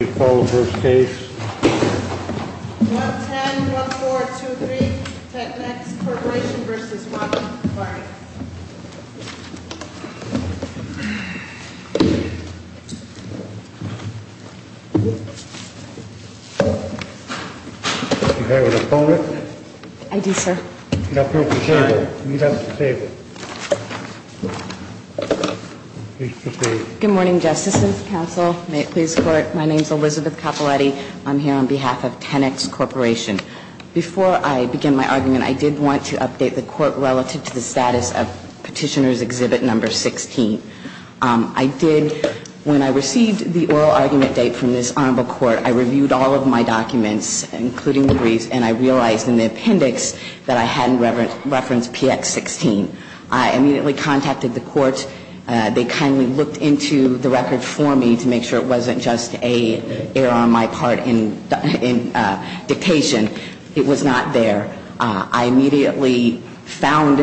Please call the first case. 1-10-1423 Tenex Corporation v. Washington Party Do you have an opponent? I do, sir. Meet up at the table. Good morning, Justices, Counsel. May it please the Court. My name is Elizabeth Capaletti. I'm here on behalf of Tenex Corporation. Before I begin my argument, I did want to update the Court relative to the status of Petitioner's Exhibit No. 16. I did, when I received the oral argument date from this Honorable Court, I reviewed all of my documents, including the briefs, and I realized in the appendix that I hadn't referenced PX16. I immediately contacted the Court. They kindly looked into the record for me to make sure it wasn't just an error on my part in dictation. It was not there. I immediately found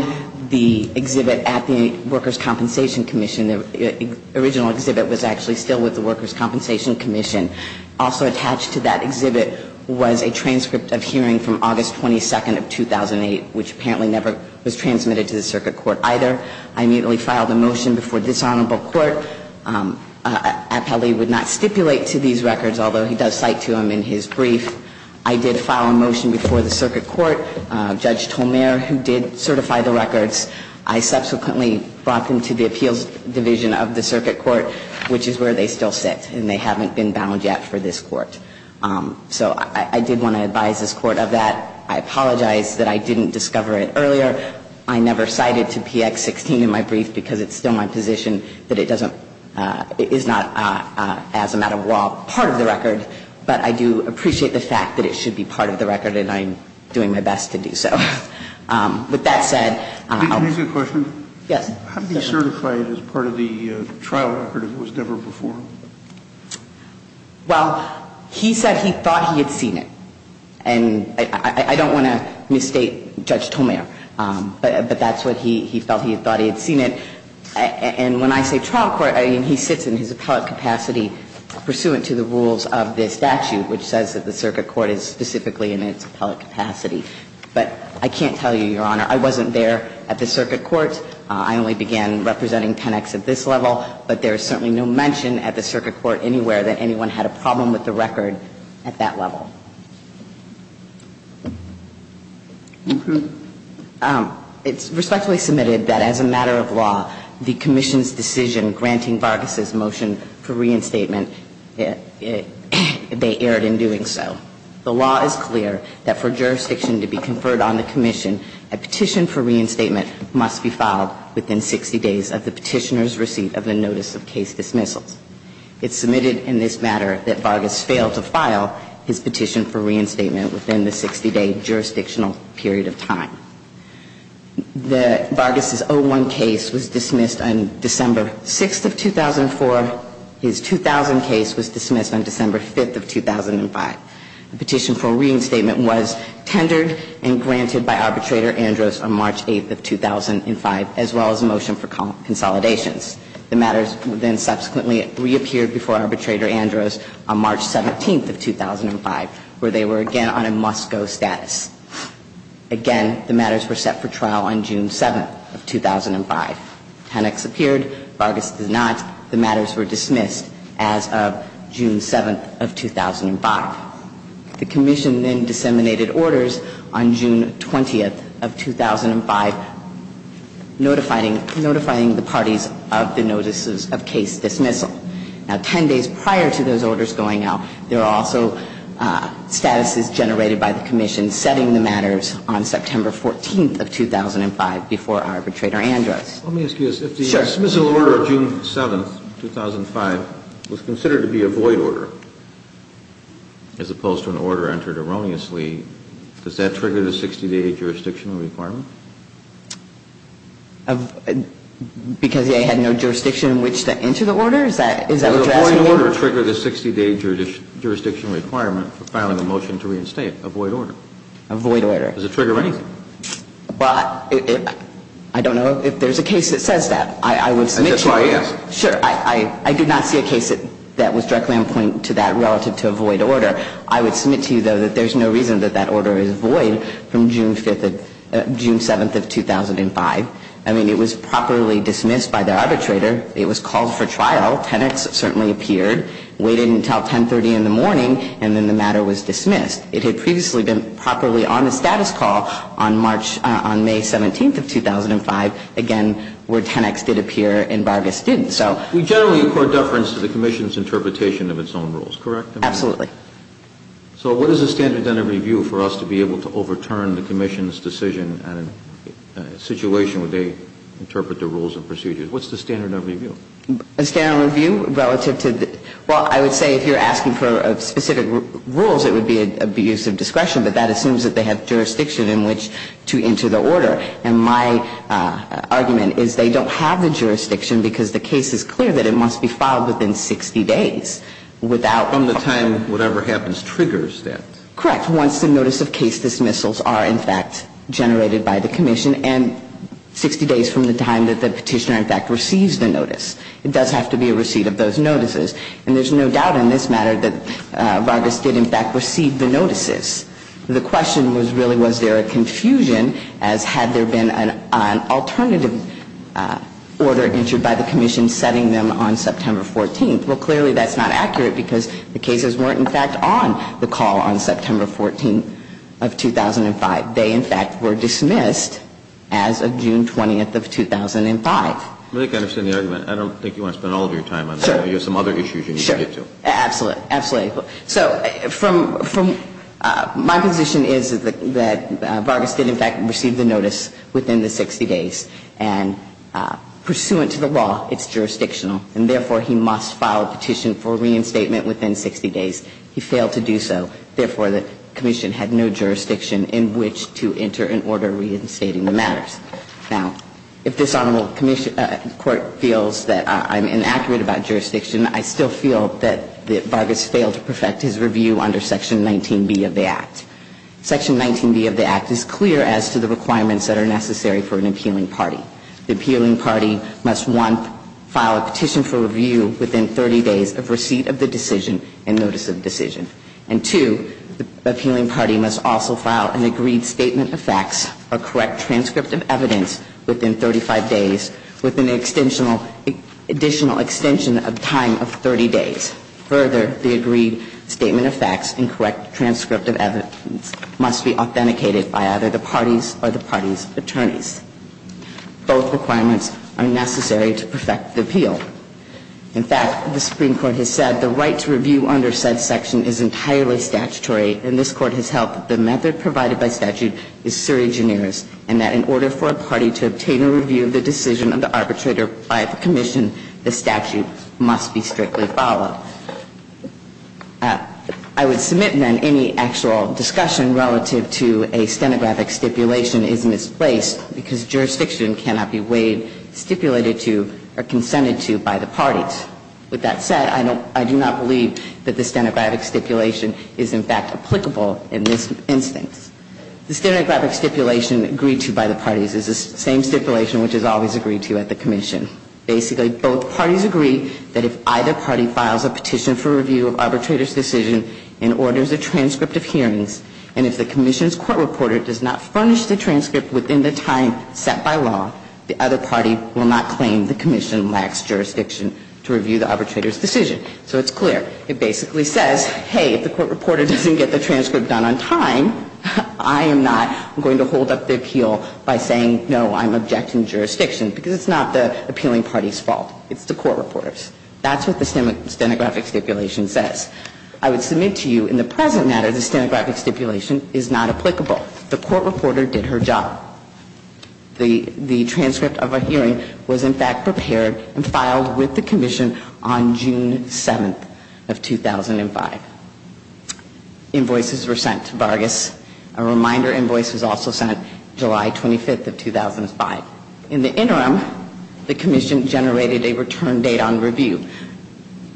the exhibit at the Workers' Compensation Commission. The original exhibit was actually still with the Workers' Compensation Commission. Also attached to that exhibit was a transcript of hearing from August 22nd of 2008, which apparently never was transmitted to the Circuit Court either. I immediately filed a motion before this Honorable Court. Appellee would not stipulate to these records, although he does cite to them in his brief. I did file a motion before the Circuit Court. Judge Tolmere, who did certify the records, I subsequently brought them to the Appeals Division of the Circuit Court, which is where they still sit, and they haven't been bound yet for this Court. So I did want to advise this Court of that. I apologize that I didn't discover it earlier. I never cited to PX16 in my brief because it's still my position that it doesn't – it is not, as a matter of law, part of the record. But I do appreciate the fact that it should be part of the record, and I'm doing my best to do so. With that said, I'll – Can I ask you a question? Yes. How did he certify it as part of the trial record if it was never performed? Well, he said he thought he had seen it. And I don't want to misstate Judge Tolmere, but that's what he felt. He thought he had seen it. And when I say trial court, I mean he sits in his appellate capacity pursuant to the rules of this statute, which says that the Circuit Court is specifically in its appellate capacity. But I can't tell you, Your Honor. I wasn't there at the Circuit Court. I only began representing 10X at this level, but there is certainly no mention at the Circuit Court anywhere that anyone had a problem with the record at that level. It's respectfully submitted that as a matter of law, the Commission's decision granting Vargas' motion for reinstatement, they erred in doing so. The law is clear that for jurisdiction to be conferred on the Commission, a petition for reinstatement must be filed within 60 days of the petitioner's receipt of the notice of case dismissals. It's submitted in this matter that Vargas failed to file his petition for reinstatement within the 60-day jurisdictional period of time. Vargas' 01 case was dismissed on December 6th of 2004. His 2000 case was dismissed on December 5th of 2005. The petition for reinstatement was tendered and granted by Arbitrator Andros on March 8th of 2005, as well as a motion for consolidations. The matters then subsequently reappeared before Arbitrator Andros on March 17th of 2005, where they were again on a must-go status. Again, the matters were set for trial on June 7th of 2005. 10X appeared. Vargas did not. The matters were dismissed as of June 7th of 2005. The Commission then disseminated orders on June 20th of 2005, notifying the parties of the notices of case dismissal. Now, 10 days prior to those orders going out, there are also statuses generated by the Commission setting the matters on September 14th of 2005 before Arbitrator Andros. Let me ask you this. Sure. If a dismissal order of June 7th of 2005 was considered to be a void order, as opposed to an order entered erroneously, does that trigger the 60-day jurisdictional requirement? Because it had no jurisdiction in which to enter the order? Is that what you're asking? Does a void order trigger the 60-day jurisdictional requirement for filing a motion to reinstate a void order? A void order. Does it trigger anything? But I don't know if there's a case that says that. I would submit to you. That's why I asked. Sure. I did not see a case that was directly on point to that relative to a void order. I would submit to you, though, that there's no reason that that order is void from June 7th of 2005. I mean, it was properly dismissed by the arbitrator. It was called for trial. 10X certainly appeared, waited until 1030 in the morning, and then the matter was dismissed. It had previously been properly on the status call on March, on May 17th of 2005, again, where 10X did appear in Vargas Student. So we generally accord deference to the commission's interpretation of its own rules, correct? Absolutely. So what is the standard of review for us to be able to overturn the commission's decision on a situation where they interpret the rules and procedures? What's the standard of review? A standard of review relative to the – well, I would say if you're asking for specific rules, it would be abuse of discretion, but that assumes that they have jurisdiction in which to enter the order. And my argument is they don't have the jurisdiction because the case is clear that it must be filed within 60 days without – From the time whatever happens triggers that. Once the notice of case dismissals are, in fact, generated by the commission, and 60 days from the time that the petitioner, in fact, receives the notice. It does have to be a receipt of those notices. And there's no doubt in this matter that Vargas did, in fact, receive the notices. The question was really was there a confusion as had there been an alternative order entered by the commission setting them on September 14th. Well, clearly that's not accurate because the cases weren't, in fact, on the call on September 14th of 2005. They, in fact, were dismissed as of June 20th of 2005. I think I understand the argument. I don't think you want to spend all of your time on that. You have some other issues you need to get to. Sure. Absolutely. Absolutely. So from – my position is that Vargas did, in fact, receive the notice within the 60 days. And pursuant to the law, it's jurisdictional. And therefore, he must file a petition for reinstatement within 60 days. He failed to do so. Therefore, the commission had no jurisdiction in which to enter an order reinstating the matters. Now, if this honorable court feels that I'm inaccurate about jurisdiction, I still feel that Vargas failed to perfect his review under Section 19B of the Act. Section 19B of the Act is clear as to the requirements that are necessary for an appealing party. The appealing party must, one, file a petition for review within 30 days of receipt of the decision and notice of decision. And, two, the appealing party must also file an agreed statement of facts, a correct transcript of evidence within 35 days with an additional extension of time of 30 days. Further, the agreed statement of facts and correct transcript of evidence must be authenticated by either the party's or the party's attorneys. Both requirements are necessary to perfect the appeal. In fact, the Supreme Court has said the right to review under said section is entirely statutory. And this Court has held that the method provided by statute is surregineers and that in order for a party to obtain a review of the decision of the arbitrator by the commission, the statute must be strictly followed. I would submit, then, any actual discussion relative to a stenographic stipulation is misplaced because jurisdiction cannot be weighed, stipulated to, or consented to by the parties. With that said, I do not believe that the stenographic stipulation is, in fact, applicable in this instance. The stenographic stipulation agreed to by the parties is the same stipulation which is always agreed to at the commission. Basically, both parties agree that if either party files a petition for review of arbitrator's decision and orders a transcript of hearings, and if the commission's court reporter does not furnish the transcript within the time set by law, the other party will not claim the commission lacks jurisdiction to review the arbitrator's decision. So it's clear. It basically says, hey, if the court reporter doesn't get the transcript done on time, I am not going to hold up the appeal by saying, no, I'm objecting jurisdiction, because it's not the appealing party's fault. It's the court reporter's. That's what the stenographic stipulation says. I would submit to you in the present matter the stenographic stipulation is not applicable. The court reporter did her job. The transcript of a hearing was, in fact, prepared and filed with the commission on June 7th of 2005. Invoices were sent to Vargas. A reminder invoice was also sent July 25th of 2005. In the interim, the commission generated a return date on review.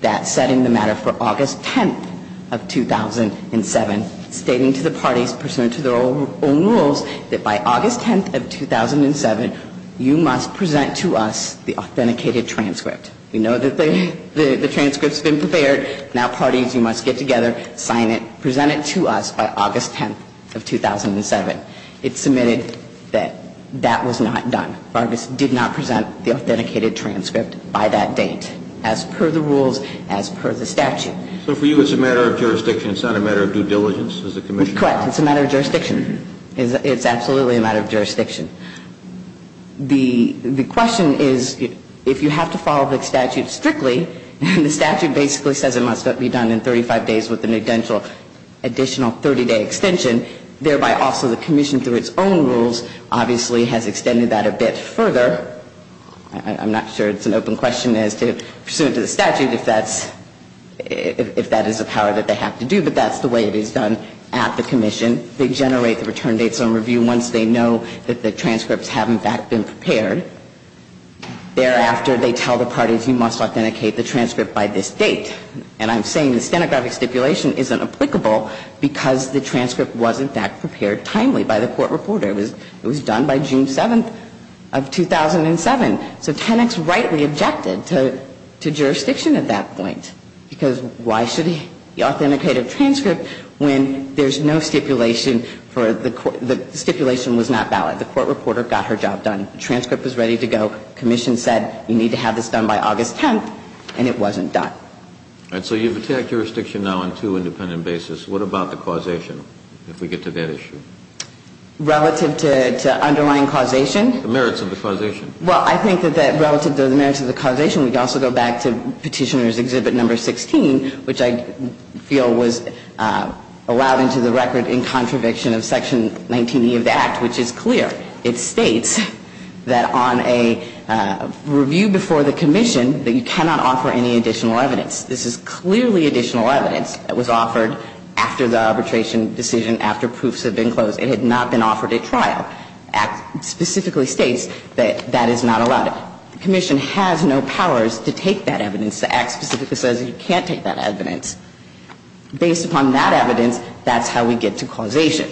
That set in the matter for August 10th of 2007, stating to the parties pursuant to their own rules that by August 10th of 2007, you must present to us the authenticated transcript. We know that the transcript's been prepared. Now, parties, you must get together, sign it, present it to us by August 10th of 2007. It's submitted that that was not done. Vargas did not present the authenticated transcript by that date, as per the rules, as per the statute. So for you, it's a matter of jurisdiction. It's not a matter of due diligence, is the commission? Correct. It's a matter of jurisdiction. It's absolutely a matter of jurisdiction. The question is, if you have to follow the statute strictly, and the statute basically says it must be done in 35 days with an additional 30-day extension, thereby also the commission through its own rules obviously has extended that a bit further. I'm not sure it's an open question as to pursuant to the statute if that is a power that they have to do, but that's the way it is done at the commission. They generate the return dates on review once they know that the transcripts have, in fact, been prepared. Thereafter, they tell the parties, you must authenticate the transcript by this date. And I'm saying the stenographic stipulation isn't applicable because the transcript was, in fact, prepared timely by the court reporter. It was done by June 7th of 2007. So Tenex rightly objected to jurisdiction at that point, because why should he authenticate a transcript when there's no stipulation for the court? The stipulation was not valid. The court reporter got her job done. The transcript was ready to go. The commission said, you need to have this done by August 10th, and it wasn't done. All right. So you've attacked jurisdiction now on two independent basis. What about the causation, if we get to that issue? Relative to underlying causation? The merits of the causation. Well, I think that relative to the merits of the causation, we could also go back to Petitioner's Exhibit No. 16, which I feel was allowed into the record in contradiction of Section 19E of the Act, which is clear. It states that on a review before the commission that you cannot offer any additional evidence. This is clearly additional evidence that was offered after the arbitration decision, after proofs had been closed. It had not been offered at trial. Act specifically states that that is not allowed. The commission has no powers to take that evidence. The Act specifically says you can't take that evidence. Based upon that evidence, that's how we get to causation,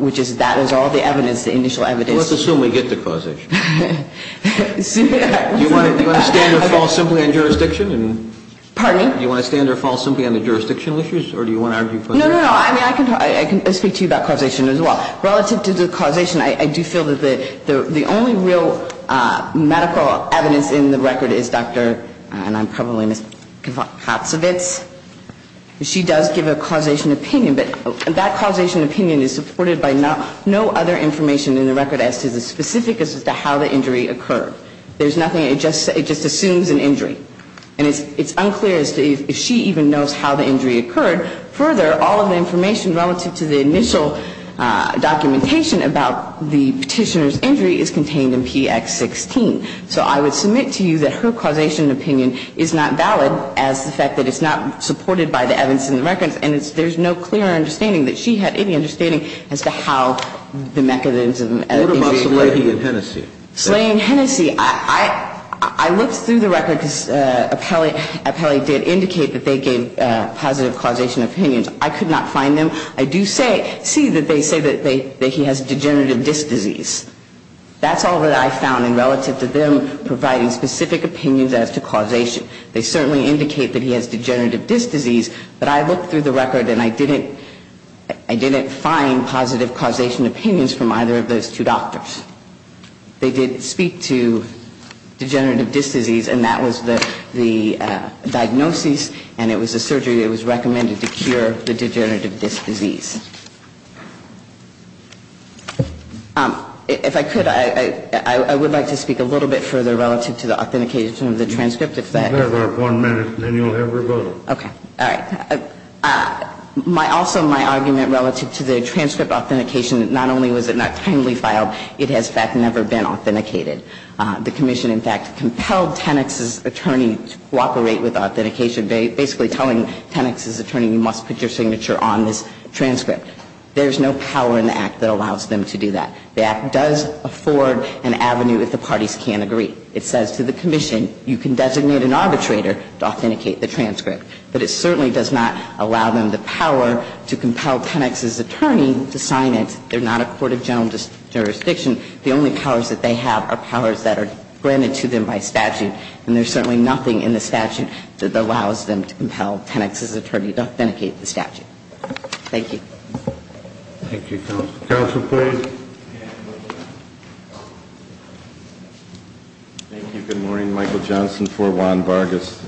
which is that is all the evidence, the initial evidence. Let's assume we get to causation. Do you want to stand or fall simply on jurisdiction? Pardon me? Do you want to stand or fall simply on the jurisdictional issues, or do you want to argue for them? No, no, no. I can speak to you about causation as well. Relative to the causation, I do feel that the only real medical evidence in the record is Dr. and I'm probably mispronouncing, Katzowitz. She does give a causation opinion, but that causation opinion is supported by no other information in the record as to the specifics as to how the injury occurred. There's nothing. It just assumes an injury. And it's unclear as to if she even knows how the injury occurred. Further, all of the information relative to the initial documentation about the Petitioner's injury is contained in PX16. So I would submit to you that her causation opinion is not valid as the fact that it's not supported by the evidence in the records, and there's no clear understanding that she had any understanding as to how the mechanism of the injury occurred. What about Slaney and Hennessey? Slaney and Hennessey, I looked through the record because Appelli did indicate that they gave positive causation opinions. I could not find them. I do see that they say that he has degenerative disc disease. That's all that I found in relative to them providing specific opinions as to causation. They certainly indicate that he has degenerative disc disease, but I looked through the record and I didn't find positive causation opinions from either of those two doctors. They did speak to degenerative disc disease, and that was the diagnosis, and it was a surgery that was recommended to cure the degenerative disc disease. If I could, I would like to speak a little bit further relative to the authentication of the transcript. You have about one minute, and then you'll have rebuttal. Okay. All right. Also, my argument relative to the transcript authentication, not only was it not timely filed, it has, in fact, never been authenticated. The commission, in fact, compelled Tenex's attorney to cooperate with authentication, basically telling Tenex's attorney, you must put your signature on this transcript. There's no power in the Act that allows them to do that. The Act does afford an avenue if the parties can't agree. It says to the commission, you can designate an arbitrator to authenticate the transcript, but it certainly does not allow them the power to compel Tenex's attorney to sign it. They're not a court of general jurisdiction. The only powers that they have are powers that are granted to them by statute, and there's certainly nothing in the statute that allows them to compel Tenex's attorney to authenticate the statute. Thank you. Thank you. Counsel, please. Thank you. Good morning. I'm Michael Johnson for Juan Vargas.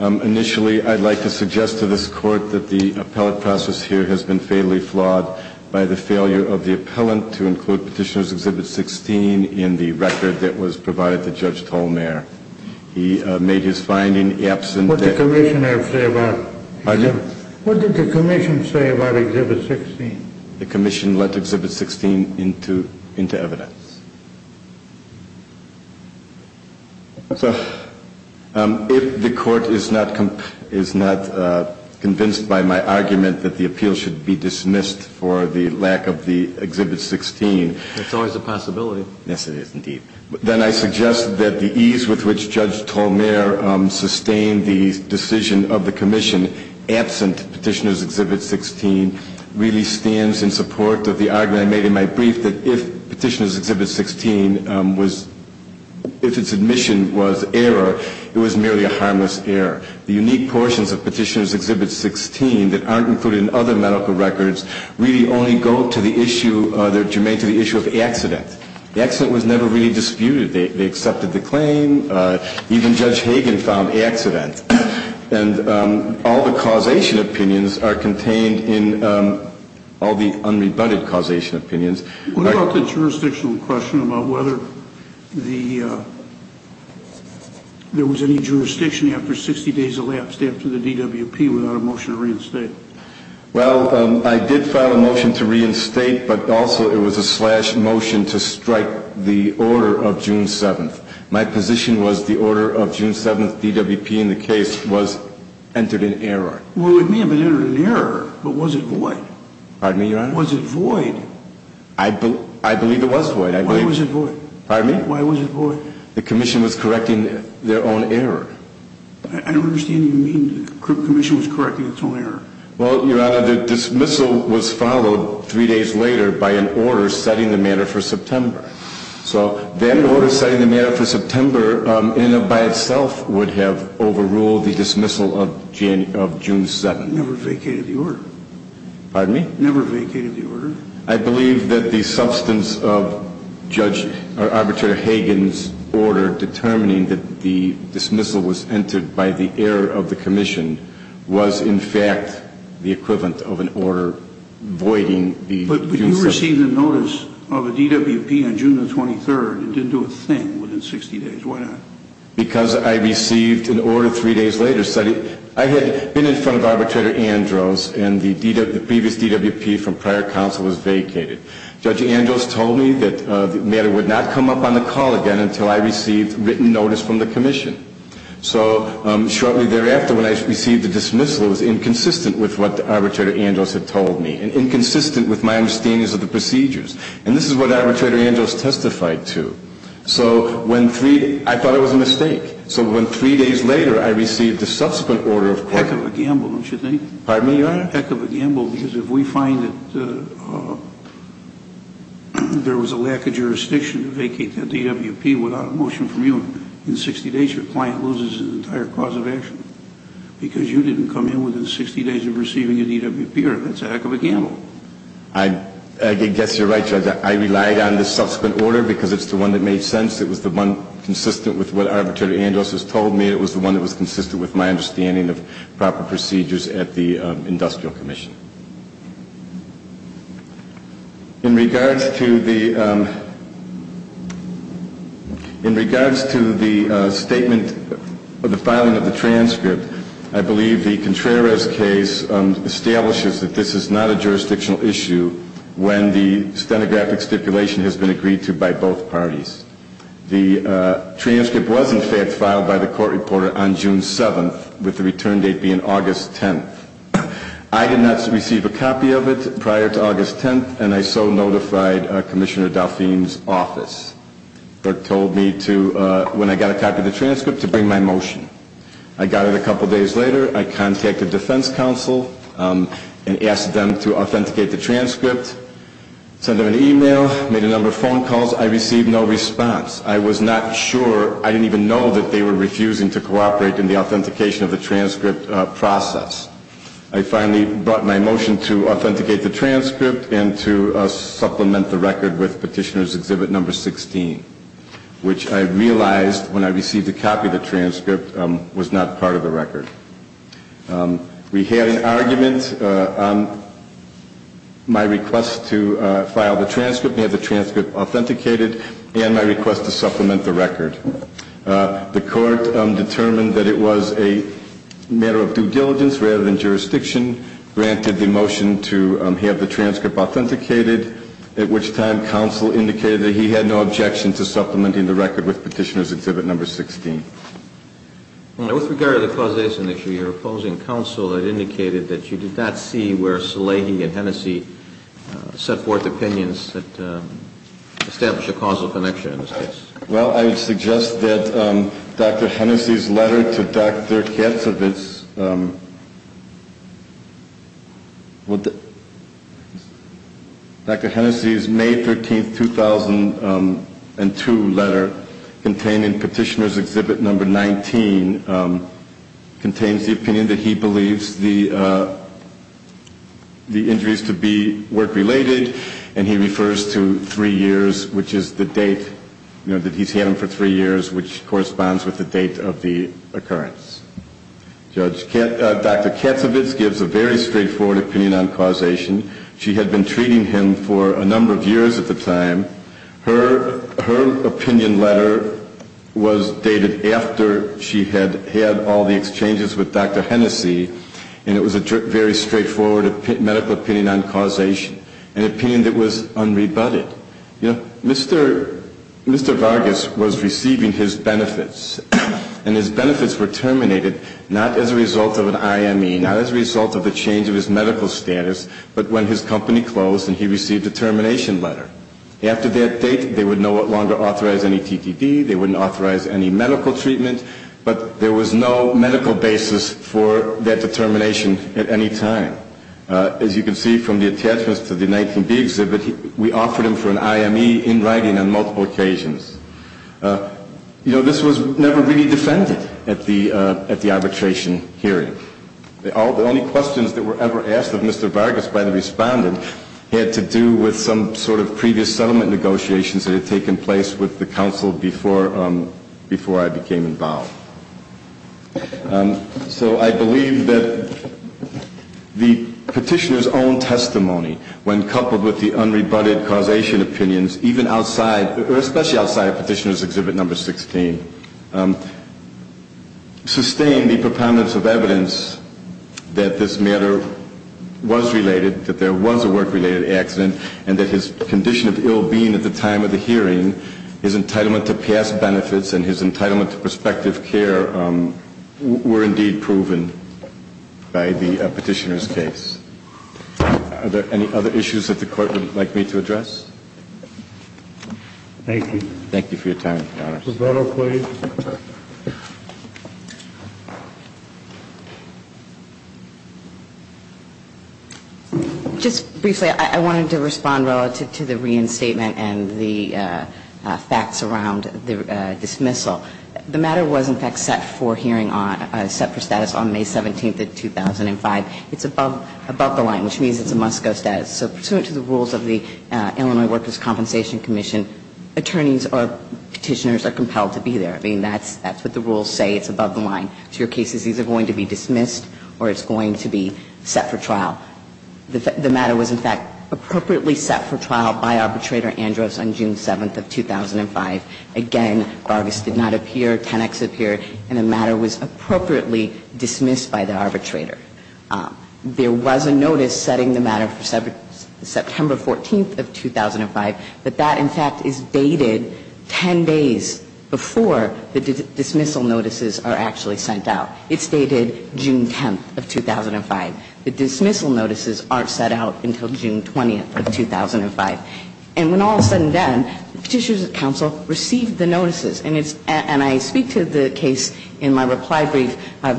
Initially, I'd like to suggest to this Court that the appellate process here has been fatally flawed by the failure of the appellant to include Petitioner's Exhibit 16 in the record that was provided to Judge Tolmere. He made his finding absent. What did the commission say about Exhibit 16? The commission let Exhibit 16 into evidence. If the Court is not convinced by my argument that the appeal should be dismissed for the lack of the Exhibit 16. It's always a possibility. Yes, it is, indeed. Then I suggest that the ease with which Judge Tolmere sustained the decision of the commission absent Petitioner's Exhibit 16 really stands in support of the argument I made in my brief that if Petitioner's Exhibit 16 was, if its admission was error, it was merely a harmless error. The unique portions of Petitioner's Exhibit 16 that aren't included in other medical records really only go to the issue, they're germane to the issue of accident. The accident was never really disputed. They accepted the claim. Even Judge Hagen found accident. And all the causation opinions are contained in all the unrebutted causation opinions. What about the jurisdictional question about whether there was any jurisdiction after 60 days elapsed after the DWP without a motion to reinstate? Well, I did file a motion to reinstate, but also it was a slash motion to strike the order of June 7th. My position was the order of June 7th DWP in the case was entered in error. Well, it may have been entered in error, but was it void? Pardon me, Your Honor? Was it void? I believe it was void. Why was it void? Pardon me? Why was it void? The commission was correcting their own error. I don't understand what you mean, the commission was correcting its own error. Well, Your Honor, the dismissal was followed three days later by an order setting the matter for September. So that order setting the matter for September in and of by itself would have overruled the dismissal of June 7th. It never vacated the order. Pardon me? It never vacated the order. I believe that the substance of Arbitrator Hagen's order determining that the dismissal was entered by the error of the commission was in fact the equivalent of an order voiding the June 7th order. But you received a notice of a DWP on June 23rd. It didn't do a thing within 60 days. Why not? Because I received an order three days later. I had been in front of Arbitrator Andros, and the previous DWP from prior counsel was vacated. Judge Andros told me that the matter would not come up on the call again until I received written notice from the commission. So shortly thereafter when I received the dismissal, it was inconsistent with what Arbitrator Andros had told me and inconsistent with my understandings of the procedures. And this is what Arbitrator Andros testified to. So when three — I thought it was a mistake. So when three days later I received the subsequent order of court — Heck of a gamble, don't you think? Pardon me, Your Honor? Heck of a gamble, because if we find that there was a lack of jurisdiction to vacate that DWP without a motion from you, in 60 days your client loses an entire cause of action because you didn't come in within 60 days of receiving a DWP order. That's a heck of a gamble. I guess you're right, Judge. I relied on the subsequent order because it's the one that made sense. It was the one consistent with what Arbitrator Andros has told me. It was the one that was consistent with my understanding of proper procedures at the industrial commission. In regards to the — in regards to the statement of the filing of the transcript, I believe the Contreras case establishes that this is not a jurisdictional issue when the stenographic stipulation has been agreed to by both parties. The transcript was, in fact, filed by the court reporter on June 7th, with the return date being August 10th. I did not receive a copy of it prior to August 10th, and I so notified Commissioner Dauphine's office that told me to — when I got a copy of the transcript, to bring my motion. I got it a couple days later. I contacted defense counsel and asked them to authenticate the transcript. Sent them an email, made a number of phone calls. I received no response. I was not sure — I didn't even know that they were refusing to cooperate in the authentication of the transcript process. I finally brought my motion to authenticate the transcript and to supplement the record with Petitioner's Exhibit No. 16, which I realized, when I received a copy of the transcript, was not part of the record. We had an argument on my request to file the transcript, have the transcript authenticated, and my request to supplement the record. The court determined that it was a matter of due diligence rather than jurisdiction, granted the motion to have the transcript authenticated, at which time counsel indicated that he had no objection to supplementing the record with Petitioner's Exhibit No. 16. With regard to the causation issue, your opposing counsel had indicated that you did not see where Salehi and Hennessey set forth opinions that established a causal connection in this case. Well, I would suggest that Dr. Hennessey's letter to Dr. Getzovitz — Dr. Hennessey's May 13, 2002, letter containing Petitioner's Exhibit No. 19 contains the opinion that he believes the injuries to be work-related, and he refers to three years, which is the date that he's had them for three years, which corresponds with the date of the occurrence. Dr. Getzovitz gives a very straightforward opinion on causation. She had been treating him for a number of years at the time. Her opinion letter was dated after she had had all the exchanges with Dr. Hennessey, and it was a very straightforward medical opinion on causation, an opinion that was unrebutted. You know, Mr. Vargas was receiving his benefits, and his benefits were terminated not as a result of an IME, not as a result of a change of his medical status, but when his company closed and he received a termination letter. After that date, they would no longer authorize any TTD, they wouldn't authorize any medical treatment, but there was no medical basis for that termination at any time. As you can see from the attachments to the 19B exhibit, we offered him for an IME in writing on multiple occasions. You know, this was never really defended at the arbitration hearing. The only questions that were ever asked of Mr. Vargas by the respondent had to do with some sort of previous settlement negotiations that had taken place with the counsel before I became involved. So I believe that the petitioner's own testimony, when coupled with the unrebutted causation opinions, even outside or especially outside of Petitioner's Exhibit No. 16, sustained the proponents of evidence that this matter was related, that there was a work-related accident, and that his condition of ill-being at the time of the hearing, his entitlement to past benefits, and his entitlement to prospective care were indeed proven by the petitioner's case. Are there any other issues that the Court would like me to address? Thank you. Thank you for your time, Your Honors. Roberto, please. Just briefly, I wanted to respond relative to the reinstatement and the facts around the dismissal. The matter was in fact set for hearing on, set for status on May 17th of 2005. It's above the line, which means it's a must-go status. So pursuant to the rules of the Illinois Workers' Compensation Commission, attorneys or petitioners are compelled to be there. I mean, that's what the rules say. It's above the line. So your case is either going to be dismissed or it's going to be set for trial. The matter was in fact appropriately set for trial by Arbitrator Andros on June 7th of 2005. Again, Vargas did not appear. Tenex appeared. And the matter was appropriately dismissed by the arbitrator. There was a notice setting the matter for September 14th of 2005. But that, in fact, is dated 10 days before the dismissal notices are actually sent out. It's dated June 10th of 2005. The dismissal notices aren't set out until June 20th of 2005. And when all is said and done, the petitioners at counsel received the notices. And I speak to the case in my reply brief. I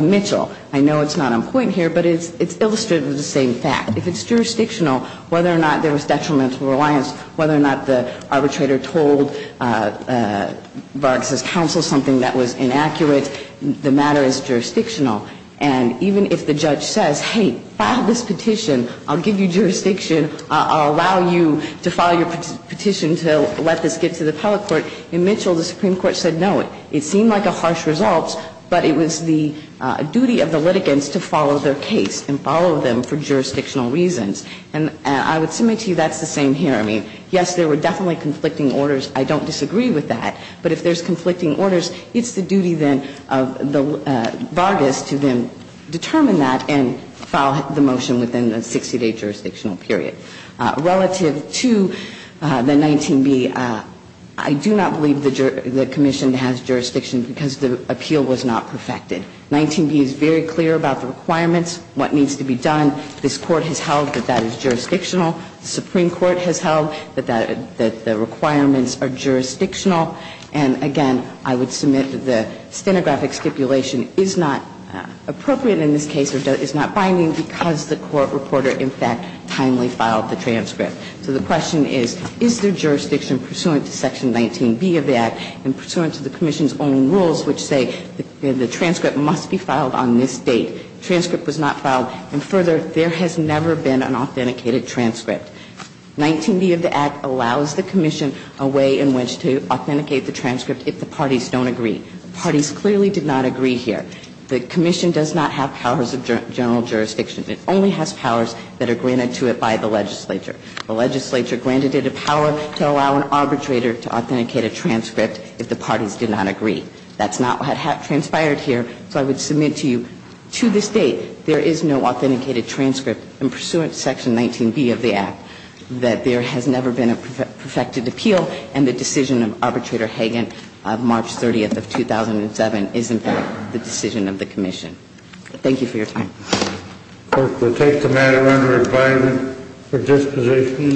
know it's not on point here, but it's illustrated with the same fact. If it's jurisdictional, whether or not there was detrimental reliance, whether or not the arbitrator told Vargas' counsel something that was inaccurate, the matter is jurisdictional. And even if the judge says, hey, file this petition, I'll give you jurisdiction, I'll allow you to file your petition to let this get to the appellate court, in Mitchell the Supreme Court said no. It seemed like a harsh result, but it was the duty of the litigants to follow their case and follow them for jurisdictional reasons. And I would submit to you that's the same here. I mean, yes, there were definitely conflicting orders. I don't disagree with that. But if there's conflicting orders, it's the duty then of Vargas to then determine that and file the motion within a 60-day jurisdictional period. Relative to the 19B, I do not believe the commission has jurisdiction because the appeal was not perfected. 19B is very clear about the requirements, what needs to be done. This Court has held that that is jurisdictional. The Supreme Court has held that the requirements are jurisdictional. And again, I would submit that the stenographic stipulation is not appropriate in this case or is not binding because the court reporter, in fact, timely filed the transcript. So the question is, is there jurisdiction pursuant to Section 19B of the Act and pursuant to the commission's own rules which say the transcript must be filed on this date? The transcript was not filed. And further, there has never been an authenticated transcript. 19B of the Act allows the commission a way in which to authenticate the transcript if the parties don't agree. The parties clearly did not agree here. The commission does not have powers of general jurisdiction. It only has powers that are granted to it by the legislature. The legislature granted it a power to allow an arbitrator to authenticate a transcript if the parties did not agree. That's not what transpired here. So I would submit to you, to this date, there is no authenticated transcript in pursuant to Section 19B of the Act, that there has never been a perfected appeal, and the decision of Arbitrator Hagan of March 30th of 2007 is, in fact, the decision of the commission. Thank you for your time. We'll take the matter under advisement for disposition.